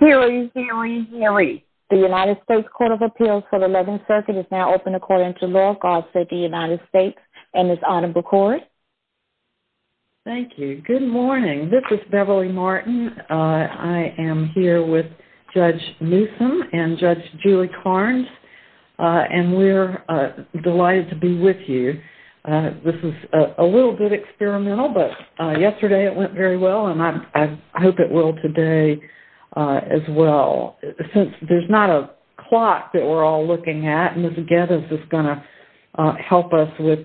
The United States Court of Appeals for the 11th Circuit is now open according to law. I'll say the United States and it's on record. Thank you. Good morning. This is Beverly Martin. I am here with Judge Newsom and Judge Julie Carnes, and we're delighted to be with you. This is a little bit experimental, but yesterday it went very well, and I hope it will today as well. Since there's not a clock that we're all looking at, Ms. Geddes is going to help us with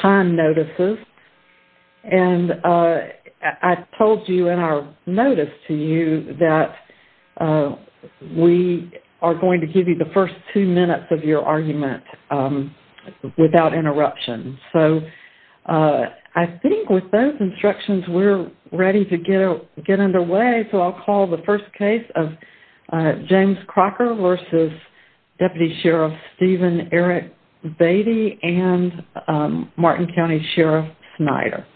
time notices. And I told you in our notice to you that we are going to give you the first two minutes of your argument without interruption. So I think with those instructions, we're ready to get underway, so I'll call the first case of James Crocker v. Deputy Sheriff Steven Eric Beatty and Martin County Sheriff Snyder.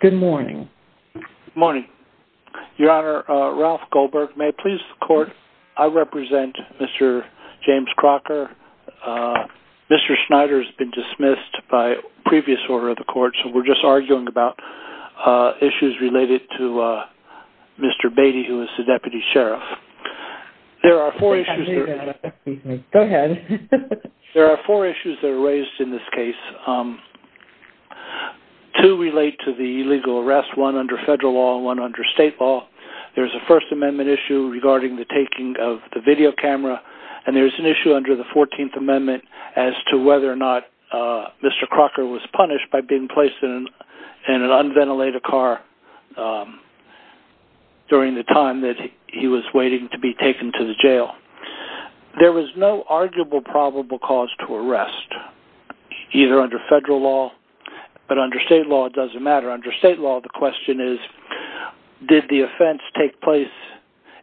Good morning. Good morning. Your Honor, Ralph Goldberg. May it please the Court, I represent Mr. James Crocker. Mr. Snyder has been dismissed by previous order of the Court, so we're just arguing about issues related to Mr. Beatty, who is the Deputy Sheriff. Go ahead. There are four issues that are raised in this case. Two relate to the illegal arrest, one under federal law and one under state law. There's a First Amendment issue regarding the taking of the video camera, and there's an issue under the 14th Amendment as to whether or not Mr. Crocker was punished by being placed in an unventilated car during the time that he was waiting to be taken to the jail. There was no arguable probable cause to arrest, either under federal law or under state law. It doesn't matter. Under state law, the question is, did the offense take place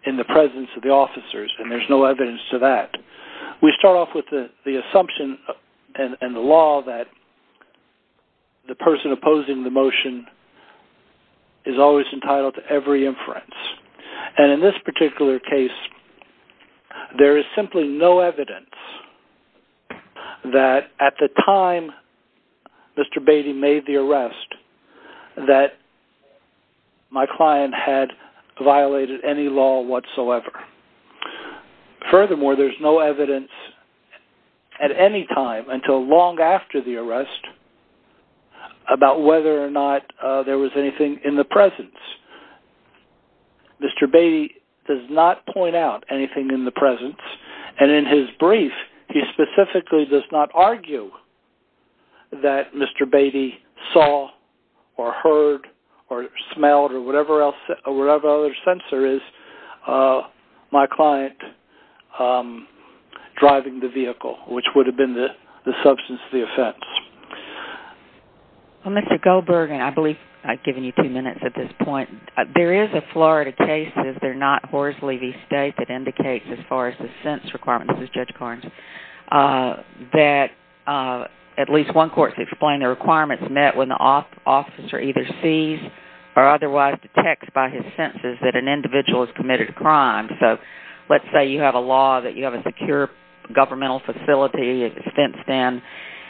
in the presence of the officers? And there's no evidence to that. We start off with the assumption and the law that the person opposing the motion is always entitled to every inference. And in this particular case, there is simply no evidence that at the time Mr. Beatty made the arrest that my client had violated any law whatsoever. Furthermore, there's no evidence at any time until long after the arrest about whether or not there was anything in the presence. Mr. Beatty does not point out anything in the presence, and in his brief, he specifically does not argue that Mr. Beatty saw or heard or smelled or whatever other sensor is my client driving the vehicle, which would have been the substance of the offense. Well, Mr. Goldberg, and I believe I've given you two minutes at this point, there is a Florida case, if they're not Horsley v. State, that indicates as far as the sense requirement, this is Judge Carnes, that at least one court has explained the requirements met when the officer either sees or otherwise detects by his senses that an individual has committed a crime. So let's say you have a law that you have a secure governmental facility, it's fenced in,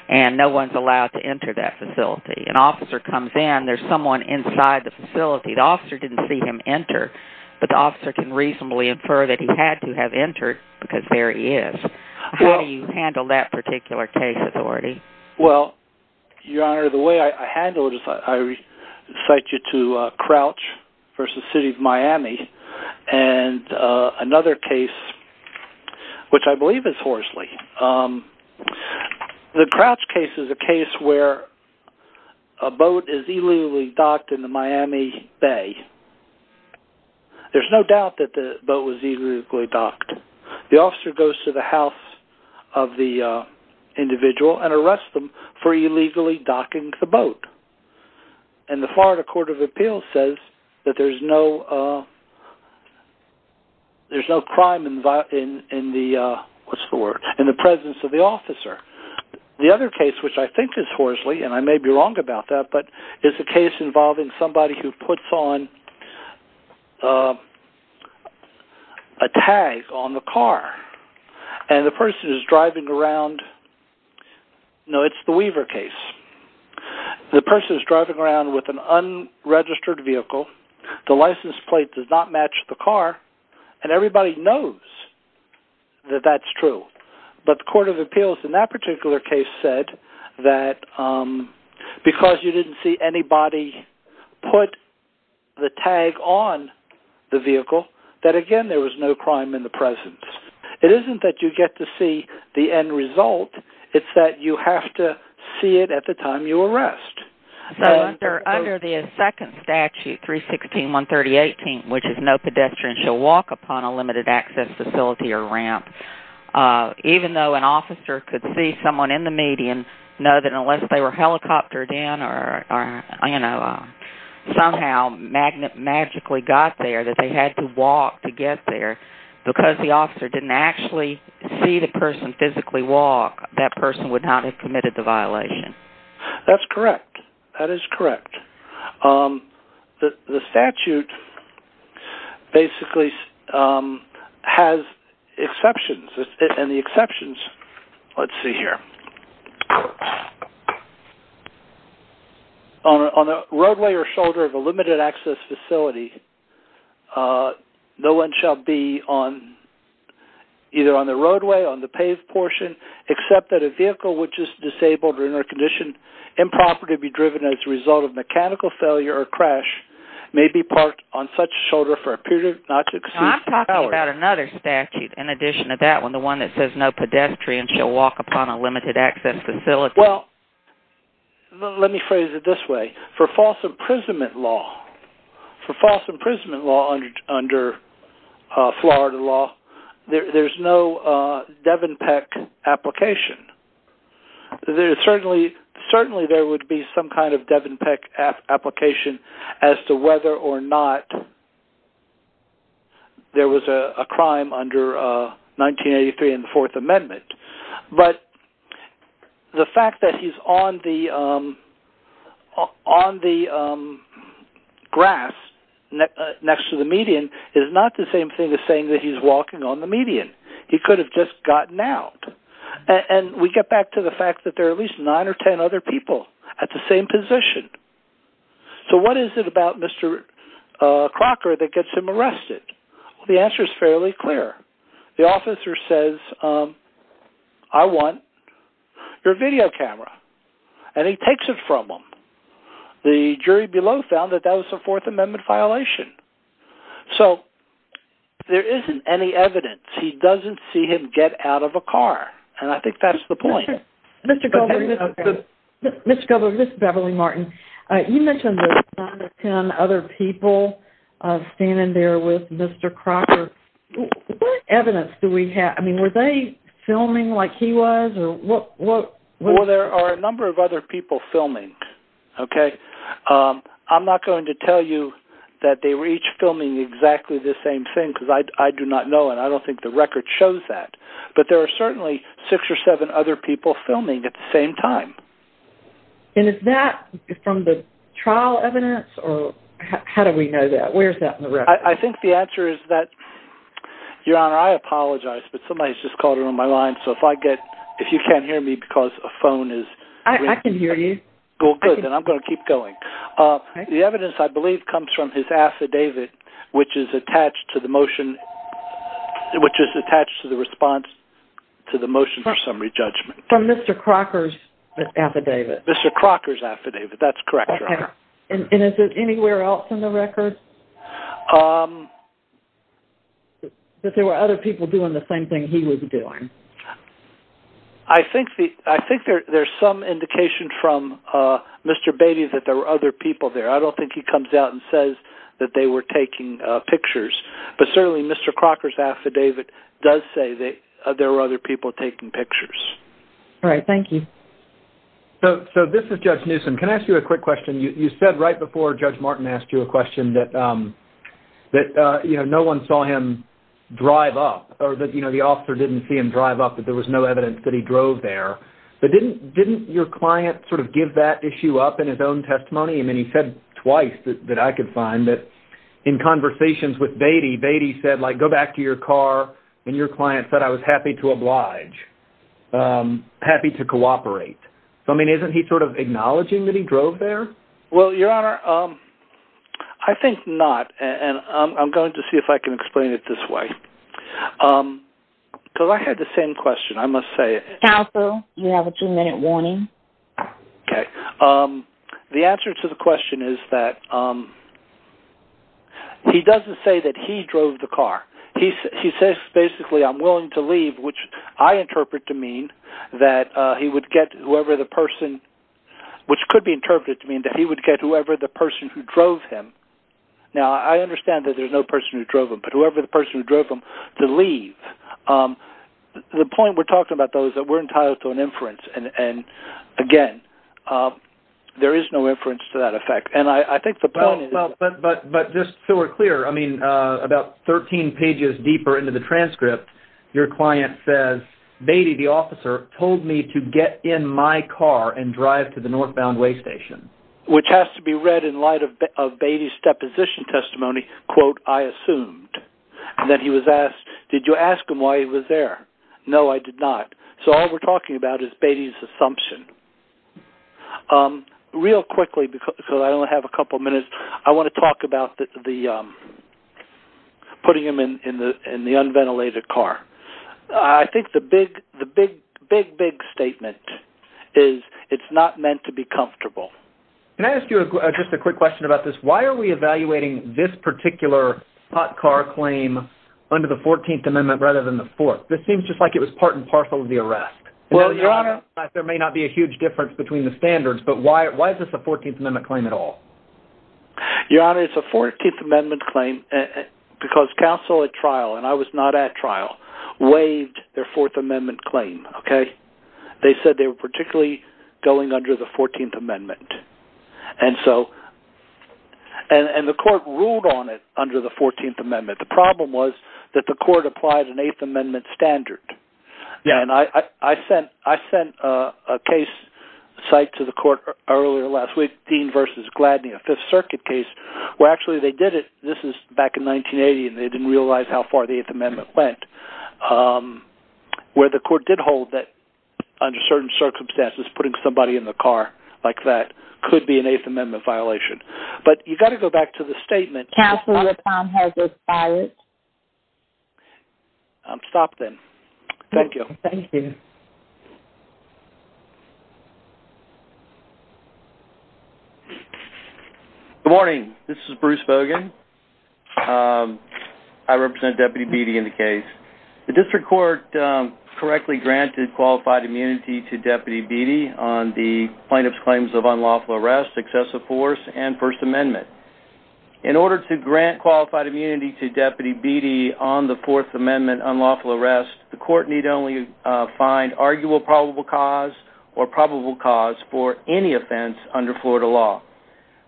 and no one's allowed to enter that facility. An officer comes in, there's someone inside the facility, the officer didn't see him enter, but the officer can reasonably infer that he had to have entered because there he is. How do you handle that particular case authority? Well, Your Honor, the way I handle it is I cite you to Crouch v. City of Miami, and another case, which I believe is Horsley. The Crouch case is a case where a boat is illegally docked in the Miami Bay. There's no doubt that the boat was illegally docked. The officer goes to the house of the individual and arrests them for illegally docking the boat. And the Florida Court of Appeals says that there's no crime in the presence of the officer. The other case, which I think is Horsley, and I may be wrong about that, but it's a case involving somebody who puts on a tag on the car, and the person is driving around. No, it's the Weaver case. The person is driving around with an unregistered vehicle. The license plate does not match the car, and everybody knows that that's true. But the Court of Appeals in that particular case said that because you didn't see anybody put the tag on the vehicle, that again, there was no crime in the presence. It isn't that you get to see the end result. It's that you have to see it at the time you arrest. So under the second statute, 316.138, which is no pedestrian shall walk upon a limited access facility or ramp, even though an officer could see someone in the median, know that unless they were helicoptered in or somehow magically got there, that they had to walk to get there, because the officer didn't actually see the person physically walk, that person would not have committed the violation. That's correct. That is correct. The statute basically has exceptions, and the exceptions, let's see here. On a roadway or shoulder of a limited access facility, no one shall be either on the roadway, on the paved portion, except that a vehicle which is disabled or in a condition improper to be driven as a result of mechanical failure or crash, may be parked on such a shoulder for a period of not exceeding an hour. I'm talking about another statute in addition to that one, the one that says no pedestrian shall walk upon a limited access facility. Well, let me phrase it this way. For false imprisonment law under Florida law, there's no Devon Peck application. Certainly there would be some kind of Devon Peck application as to whether or not there was a crime under 1983 and the Fourth Amendment. But the fact that he's on the grass next to the median is not the same thing as saying that he's walking on the median. He could have just gotten out. And we get back to the fact that there are at least nine or ten other people at the same position. So what is it about Mr. Crocker that gets him arrested? The answer is fairly clear. The officer says, I want your video camera. And he takes it from him. The jury below found that that was a Fourth Amendment violation. So there isn't any evidence. He doesn't see him get out of a car. And I think that's the point. Mr. Goldberg, this is Beverly Martin. You mentioned the nine or ten other people standing there with Mr. Crocker. What evidence do we have? I mean, were they filming like he was? Well, there are a number of other people filming, okay? I'm not going to tell you that they were each filming exactly the same thing because I do not know it. I don't think the record shows that. But there are certainly six or seven other people filming at the same time. And is that from the trial evidence? Or how do we know that? Where is that in the record? I think the answer is that, Your Honor, I apologize, but somebody has just called in on my line. So if you can't hear me because a phone is ringing. I can hear you. Well, good. Then I'm going to keep going. The evidence, I believe, comes from his affidavit, which is attached to the response to the motion for summary judgment. From Mr. Crocker's affidavit? Mr. Crocker's affidavit. That's correct, Your Honor. And is it anywhere else in the record that there were other people doing the same thing he was doing? I think there's some indication from Mr. Beatty that there were other people there. I don't think he comes out and says that they were taking pictures. But certainly Mr. Crocker's affidavit does say that there were other people taking pictures. All right. Thank you. So this is Judge Newsom. Can I ask you a quick question? You said right before Judge Martin asked you a question that no one saw him drive up, or that the officer didn't see him drive up, that there was no evidence that he drove there. But didn't your client sort of give that issue up in his own testimony? I mean, he said twice that I could find that in conversations with Beatty, Beatty said, like, go back to your car, and your client said, I was happy to oblige, happy to cooperate. I mean, isn't he sort of acknowledging that he drove there? Well, Your Honor, I think not. And I'm going to see if I can explain it this way. Because I had the same question, I must say. Counsel, you have a two-minute warning. Okay. The answer to the question is that he doesn't say that he drove the car. He says, basically, I'm willing to leave, which I interpret to mean that he would get whoever the person, which could be interpreted to mean that he would get whoever the person who drove him. Now, I understand that there's no person who drove him, but whoever the person who drove him to leave. The point we're talking about, though, is that we're entitled to an inference. And, again, there is no inference to that effect. Well, but just so we're clear, I mean, about 13 pages deeper into the transcript, your client says, Beatty, the officer, told me to get in my car and drive to the northbound way station. Which has to be read in light of Beatty's deposition testimony, quote, I assumed. And then he was asked, did you ask him why he was there? No, I did not. Real quickly, because I only have a couple minutes, I want to talk about putting him in the unventilated car. I think the big, big statement is it's not meant to be comfortable. Can I ask you just a quick question about this? Why are we evaluating this particular hot car claim under the 14th Amendment rather than the 4th? This seems just like it was part and parcel of the arrest. There may not be a huge difference between the standards, but why is this a 14th Amendment claim at all? Your Honor, it's a 14th Amendment claim because counsel at trial, and I was not at trial, waived their 4th Amendment claim. Okay? They said they were particularly going under the 14th Amendment. And so, and the court ruled on it under the 14th Amendment. The problem was that the court applied an 8th Amendment standard. Yeah, and I sent a case site to the court earlier last week, Dean v. Gladney, a 5th Circuit case, where actually they did it. This is back in 1980, and they didn't realize how far the 8th Amendment went. Where the court did hold that under certain circumstances, putting somebody in the car like that could be an 8th Amendment violation. But you've got to go back to the statement. Counsel, your time has expired. Stop then. Thank you. Thank you. Good morning. This is Bruce Bogan. I represent Deputy Beattie in the case. The district court correctly granted qualified immunity to Deputy Beattie on the plaintiff's claims of unlawful arrest, excessive force, and 1st Amendment. In order to grant qualified immunity to Deputy Beattie on the 4th Amendment unlawful arrest, the court need only find arguable probable cause or probable cause for any offense under Florida law.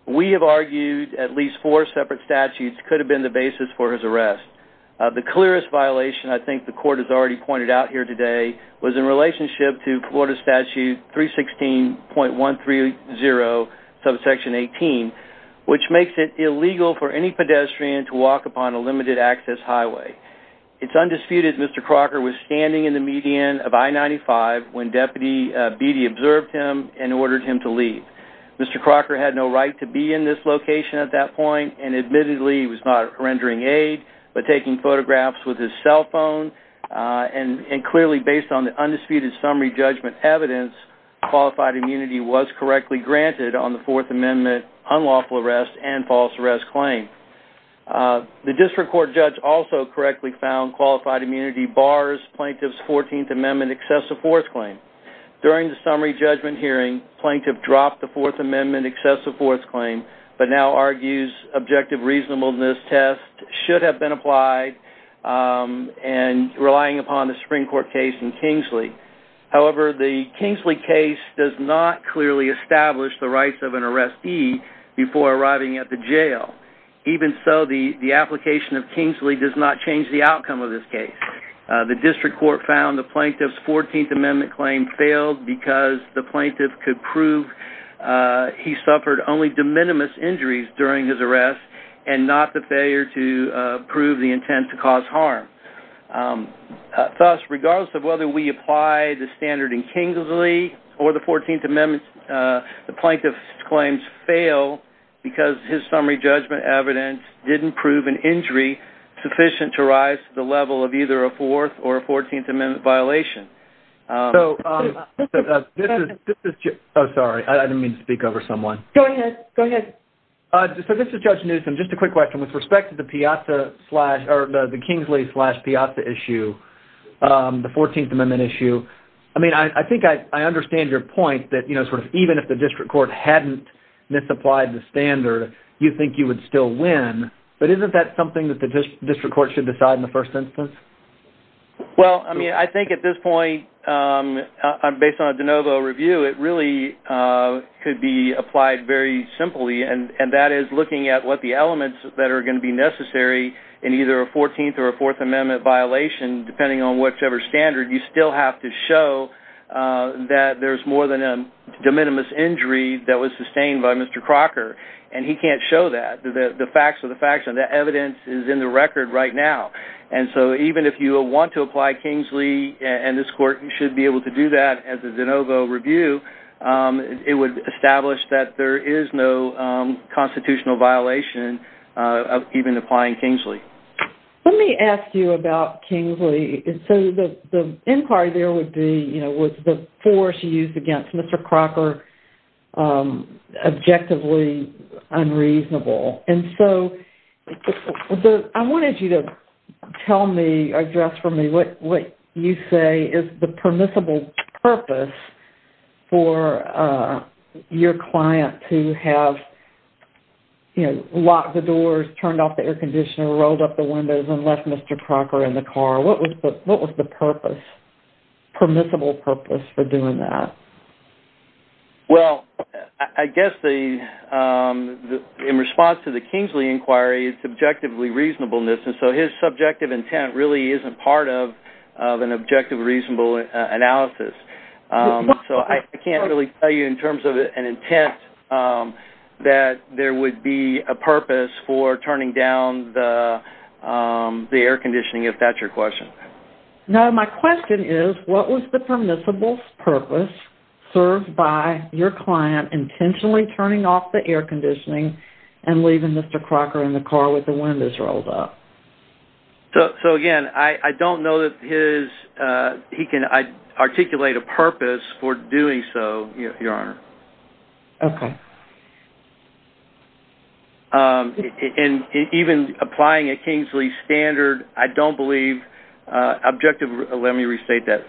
We have argued at least four separate statutes could have been the basis for his arrest. The clearest violation I think the court has already pointed out here today was in relationship to Florida Statute 316.130, subsection 18, which makes it illegal for any pedestrian to walk upon a limited access highway. It's undisputed Mr. Crocker was standing in the median of I-95 when Deputy Beattie observed him and ordered him to leave. Mr. Crocker had no right to be in this location at that point and admittedly he was not rendering aid but taking photographs with his cell phone. And clearly based on the undisputed summary judgment evidence, qualified immunity was correctly granted on the 4th Amendment unlawful arrest and false arrest claim. The district court judge also correctly found qualified immunity bars plaintiff's 14th Amendment excessive force claim. During the summary judgment hearing, plaintiff dropped the 4th Amendment excessive force claim but now argues objective reasonableness test should have been applied and relying upon the Supreme Court case in Kingsley. However, the Kingsley case does not clearly establish the rights of an arrestee before arriving at the jail. Even so, the application of Kingsley does not change the outcome of this case. The district court found the plaintiff's 14th Amendment claim failed because the plaintiff could prove he suffered only de minimis injuries during his arrest and not the failure to prove the intent to cause harm. Thus, regardless of whether we apply the standard in Kingsley or the 14th Amendment, the plaintiff's claims fail because his summary judgment evidence didn't prove an injury sufficient to rise to the level of either a 4th or a 14th Amendment violation. Oh, sorry. I didn't mean to speak over someone. Go ahead. Go ahead. So, this is Judge Newsom. Just a quick question. With respect to the Kingsley-Piazza issue, the 14th Amendment issue, I think I understand your point that even if the district court hadn't misapplied the standard, you think you would still win. But isn't that something that the district court should decide in the first instance? Well, I mean, I think at this point, based on a de novo review, it really could be applied very simply. And that is looking at what the elements that are going to be necessary in either a 14th or a 4th Amendment violation, depending on whichever standard, you still have to show that there's more than a de minimis injury that was sustained by Mr. Crocker. And he can't show that. The facts are the facts and the evidence is in the record right now. And so, even if you want to apply Kingsley, and this court should be able to do that as a de novo review, it would establish that there is no constitutional violation of even applying Kingsley. Let me ask you about Kingsley. So, the inquiry there would be, you know, was the force used against Mr. Crocker objectively unreasonable? And so, I wanted you to tell me, address for me, what you say is the permissible purpose for your client to have, you know, locked the doors, turned off the air conditioner, rolled up the windows, and left Mr. Crocker in the car. What was the purpose, permissible purpose for doing that? Well, I guess the, in response to the Kingsley inquiry, it's objectively reasonableness. And so, his subjective intent really isn't part of an objectively reasonable analysis. So, I can't really tell you in terms of an intent that there would be a purpose for turning down the air conditioning, if that's your question. No, my question is, what was the permissible purpose served by your client intentionally turning off the air conditioning and leaving Mr. Crocker in the car with the windows rolled up? So, again, I don't know that his, he can articulate a purpose for doing so, Your Honor. Okay. And even applying a Kingsley standard, I don't believe, objective, let me restate that.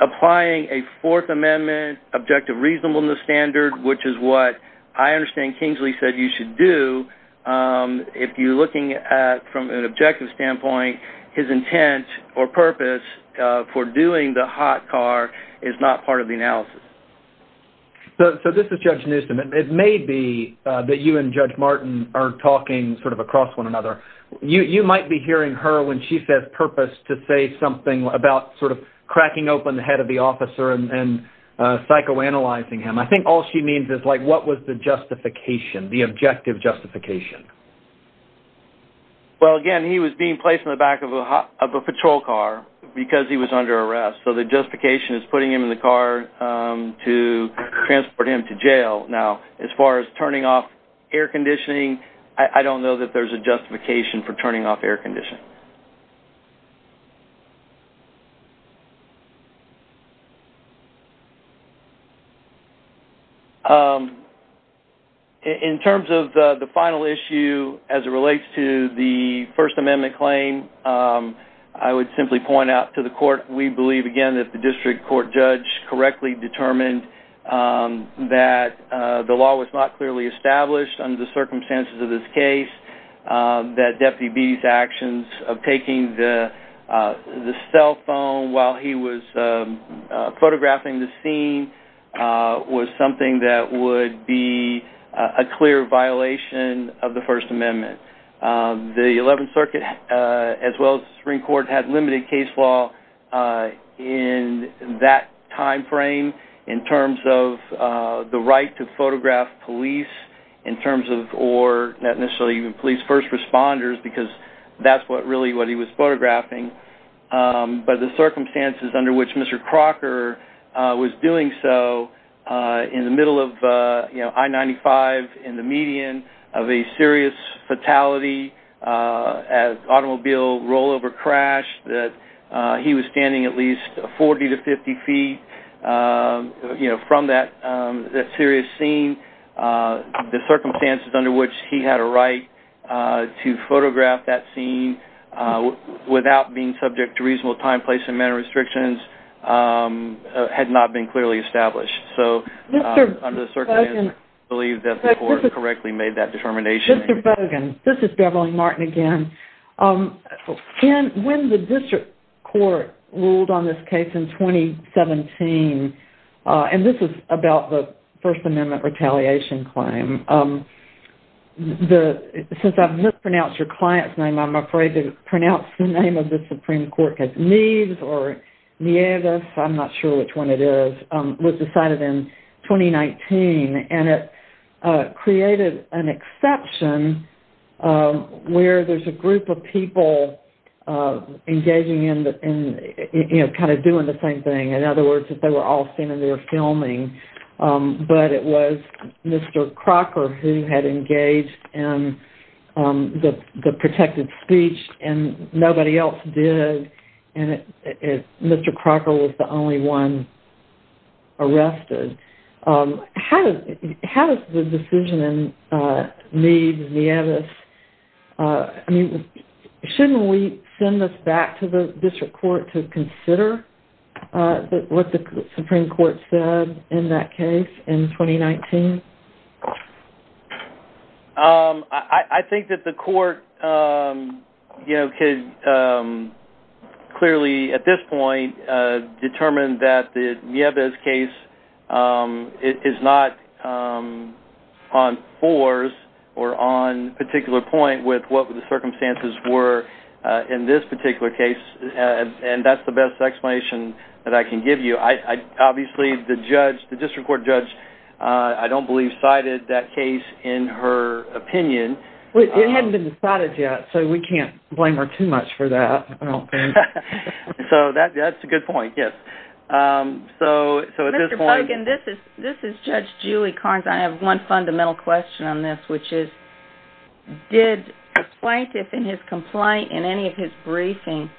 Applying a Fourth Amendment objective reasonableness standard, which is what I understand Kingsley said you should do, if you're looking at, from an objective standpoint, his intent or purpose for doing the hot car is not part of the analysis. So, this is Judge Newsom. It may be that you and Judge Martin are talking sort of across one another. You might be hearing her when she says purpose to say something about sort of cracking open the head of the officer and psychoanalyzing him. I think all she means is, like, what was the justification, the objective justification? Well, again, he was being placed in the back of a patrol car because he was under arrest. So, the justification is putting him in the car to transport him to jail. Now, as far as turning off air conditioning, I don't know that there's a justification for turning off air conditioning. In terms of the final issue as it relates to the First Amendment claim, I would simply point out to the court, we believe, again, that the district court judge correctly determined that the law was not clearly established under the circumstances of this case, that Deputy B's actions of taking the cell phone while he was photographing the scene was something that would be a clear violation of the First Amendment. The Eleventh Circuit, as well as the Supreme Court, had limited case law in that time frame in terms of the right to photograph police in terms of, or not necessarily even police first responders, because that's really what he was photographing. But the circumstances under which Mr. Crocker was doing so, in the middle of I-95, in the median of a serious fatality, an automobile rollover crash, that he was standing at least 40 to 50 feet from that serious scene, the circumstances under which he had a right to photograph that scene without being subject to reasonable time, place, and manner restrictions had not been clearly established. So, under the circumstances, I believe that the court correctly made that determination. Mr. Fogan, this is Beverly Martin again. When the district court ruled on this case in 2017, and this is about the First Amendment retaliation claim, since I've mispronounced your client's name, I'm afraid to pronounce the name of the Supreme Court, or Nieves, I'm not sure which one it is, was decided in 2019, and it created an exception where there's a group of people engaging in, you know, kind of doing the same thing. In other words, they were all standing there filming, but it was Mr. Crocker who had engaged in the protected speech, and nobody else did, and Mr. Crocker was the only one arrested. How does the decision in Nieves, Nieves, I mean, shouldn't we send this back to the district court to consider what the Supreme Court said in that case in 2019? I think that the court, you know, could clearly, at this point, determine that the Nieves case is not on fours or on particular point with what the circumstances were in this particular case, and that's the best explanation that I can give you. Obviously, the district court judge, I don't believe, cited that case in her opinion. It hadn't been decided yet, so we can't blame her too much for that, I don't think. So that's a good point, yes. Mr. Bogan, this is Judge Julie Carnes. I have one fundamental question on this, which is, did the plaintiff in his complaint, in any of his briefing,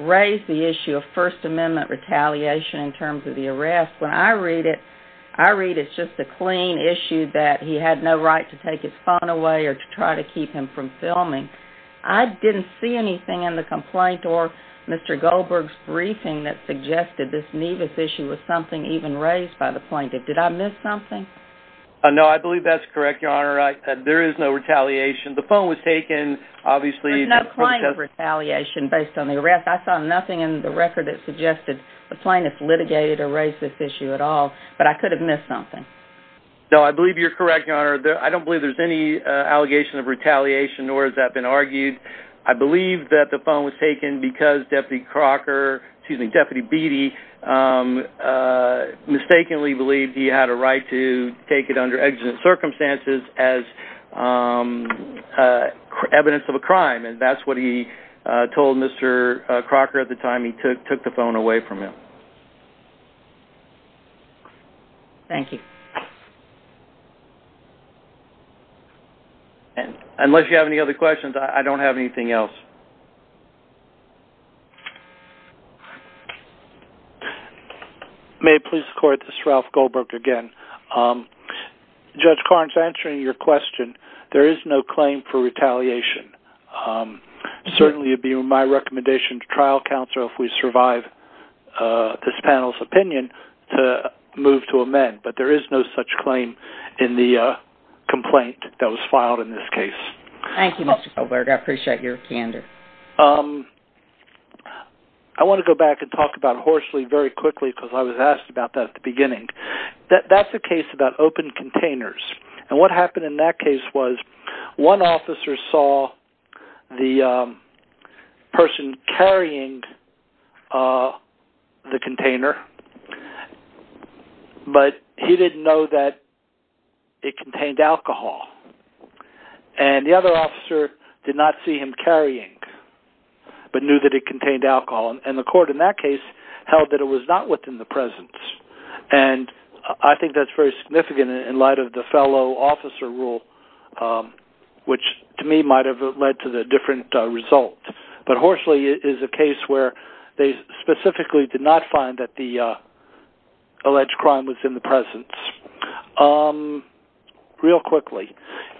raise the issue of First Amendment retaliation in terms of the arrest? When I read it, I read it's just a clean issue that he had no right to take his phone away or to try to keep him from filming. I didn't see anything in the complaint or Mr. Goldberg's briefing that suggested this Nieves issue was something even raised by the plaintiff. Did I miss something? No, I believe that's correct, Your Honor. There is no retaliation. The phone was taken, obviously. There's no claim of retaliation based on the arrest. I saw nothing in the record that suggested the plaintiff litigated or raised this issue at all, but I could have missed something. No, I believe you're correct, Your Honor. I don't believe there's any allegation of retaliation, nor has that been argued. I believe that the phone was taken because Deputy Crocker, excuse me, Deputy Beatty, mistakenly believed he had a right to take it under exigent circumstances as evidence of a crime, and that's what he told Mr. Crocker at the time he took the phone away from him. Thank you. Unless you have any other questions, I don't have anything else. May I please record this? This is Ralph Goldberg again. Judge Karnes, answering your question, there is no claim for retaliation. Certainly it would be in my recommendation to trial counsel if we survive this panel's opinion to move to amend, but there is no such claim in the complaint that was filed in this case. Thank you, Mr. Goldberg. I appreciate your candor. I want to go back and talk about Horsley very quickly because I was asked about that at the beginning. That's a case about open containers, and what happened in that case was one officer saw the person carrying the container, but he didn't know that it contained alcohol. And the other officer did not see him carrying, but knew that it contained alcohol, and the court in that case held that it was not within the presence. And I think that's very significant in light of the fellow officer rule, which to me might have led to the different result. But Horsley is a case where they specifically did not find that the alleged crime was in the presence. Real quickly,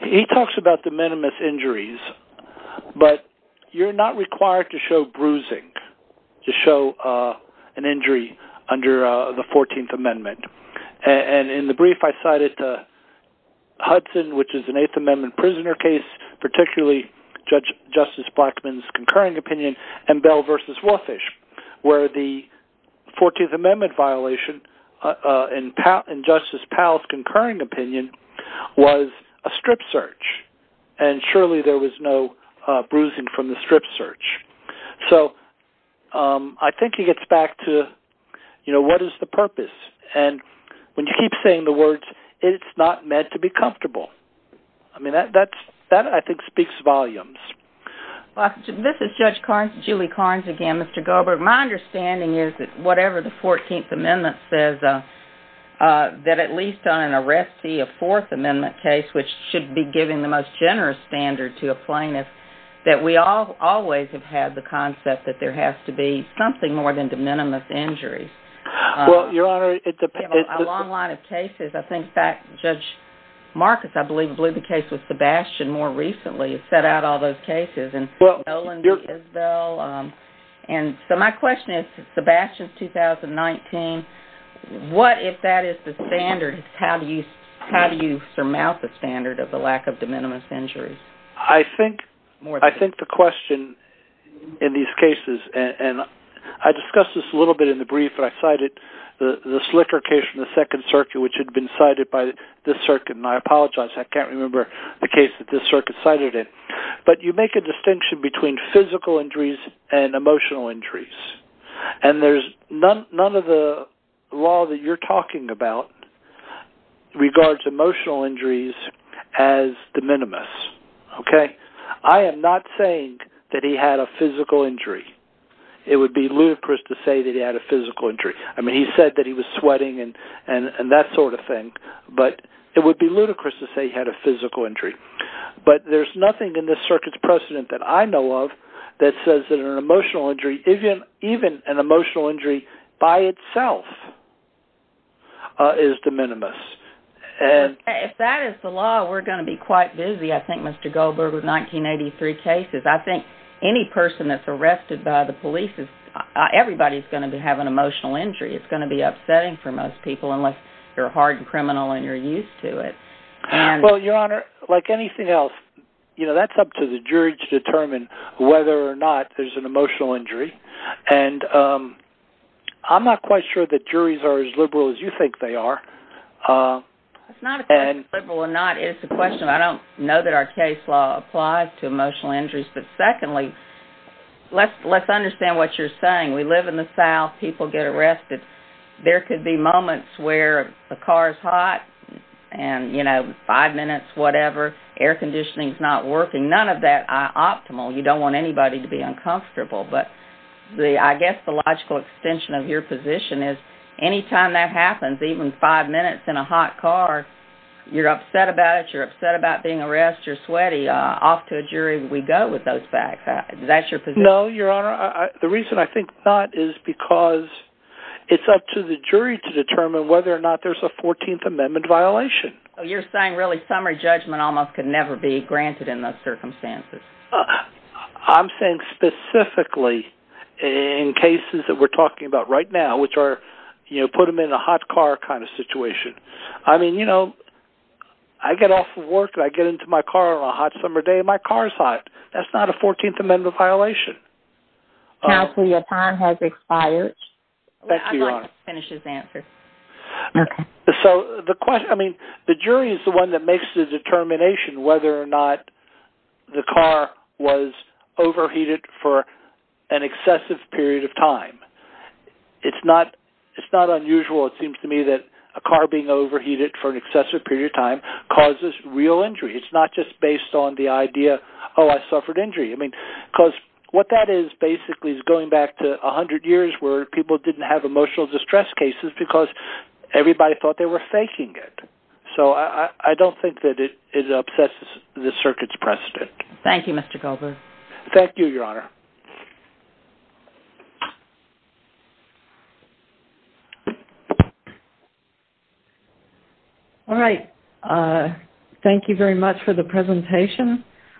he talks about the minimus injuries, but you're not required to show bruising to show an injury under the 14th Amendment. And in the brief I cited Hudson, which is an 8th Amendment prisoner case, particularly Justice Blackmun's concurring opinion, and Bell v. Walfish, where the 14th Amendment violation in Justice Powell's concurring opinion was a strip search. And surely there was no bruising from the strip search. So I think he gets back to what is the purpose, and when you keep saying the words, it's not meant to be comfortable, that I think speaks volumes. This is Judge Carnes, Julie Carnes again, Mr. Goldberg. My understanding is that whatever the 14th Amendment says, that at least on an arrestee, a Fourth Amendment case, which should be giving the most generous standard to a plaintiff, that we always have had the concept that there has to be something more than the minimus injuries. We have a long line of cases. I think Judge Marcus blew the case with Sebastian more recently and set out all those cases. So my question is, Sebastian's 2019. What, if that is the standard, how do you surmount the standard of the lack of the minimus injuries? I think the question in these cases, and I discussed this a little bit in the brief that I cited, the Slicker case from the Second Circuit, which had been cited by this circuit, and I apologize, I can't remember the case that this circuit cited it. But you make a distinction between physical injuries and emotional injuries, and none of the law that you're talking about regards emotional injuries as the minimus. I am not saying that he had a physical injury. It would be ludicrous to say that he had a physical injury. He said that he was sweating and that sort of thing, but it would be ludicrous to say he had a physical injury. But there's nothing in this circuit's precedent that I know of that says that an emotional injury, even an emotional injury by itself, is the minimus. If that is the law, we're going to be quite busy, I think, Mr. Goldberg, with 1983 cases. I think any person that's arrested by the police, everybody's going to have an emotional injury. It's going to be upsetting for most people unless you're a hardened criminal and you're used to it. Well, Your Honor, like anything else, that's up to the jury to determine whether or not there's an emotional injury, and I'm not quite sure that juries are as liberal as you think they are. It's not a question of being liberal or not. It's a question of I don't know that our case law applies to emotional injuries, but secondly, let's understand what you're saying. We live in the South. People get arrested. There could be moments where a car is hot and, you know, five minutes, whatever, air conditioning's not working. None of that is optimal. You don't want anybody to be uncomfortable, but I guess the logical extension of your position is anytime that happens, even five minutes in a hot car, you're upset about it, you're upset about being arrested, you're sweaty, off to a jury we go with those facts. No, Your Honor. The reason I think not is because it's up to the jury to determine whether or not there's a 14th Amendment violation. You're saying really summary judgment almost could never be granted in those circumstances. I'm saying specifically in cases that we're talking about right now, which are, you know, put them in a hot car kind of situation. I mean, you know, I get off of work and I get into my car on a hot summer day and my car's hot. That's not a 14th Amendment violation. Counsel, your time has expired. Thank you, Your Honor. I'd like to finish his answer. So the question, I mean, the jury is the one that makes the determination whether or not the car was overheated for an excessive period of time. It's not unusual, it seems to me, that a car being overheated for an excessive period of time causes real injury. It's not just based on the idea, oh, I suffered injury. I mean, because what that is basically is going back to 100 years where people didn't have emotional distress cases because everybody thought they were faking it. So I don't think that it upsets the circuit's precedent. Thank you, Mr. Goldberg. Thank you, Your Honor. All right. Thank you very much for the presentation.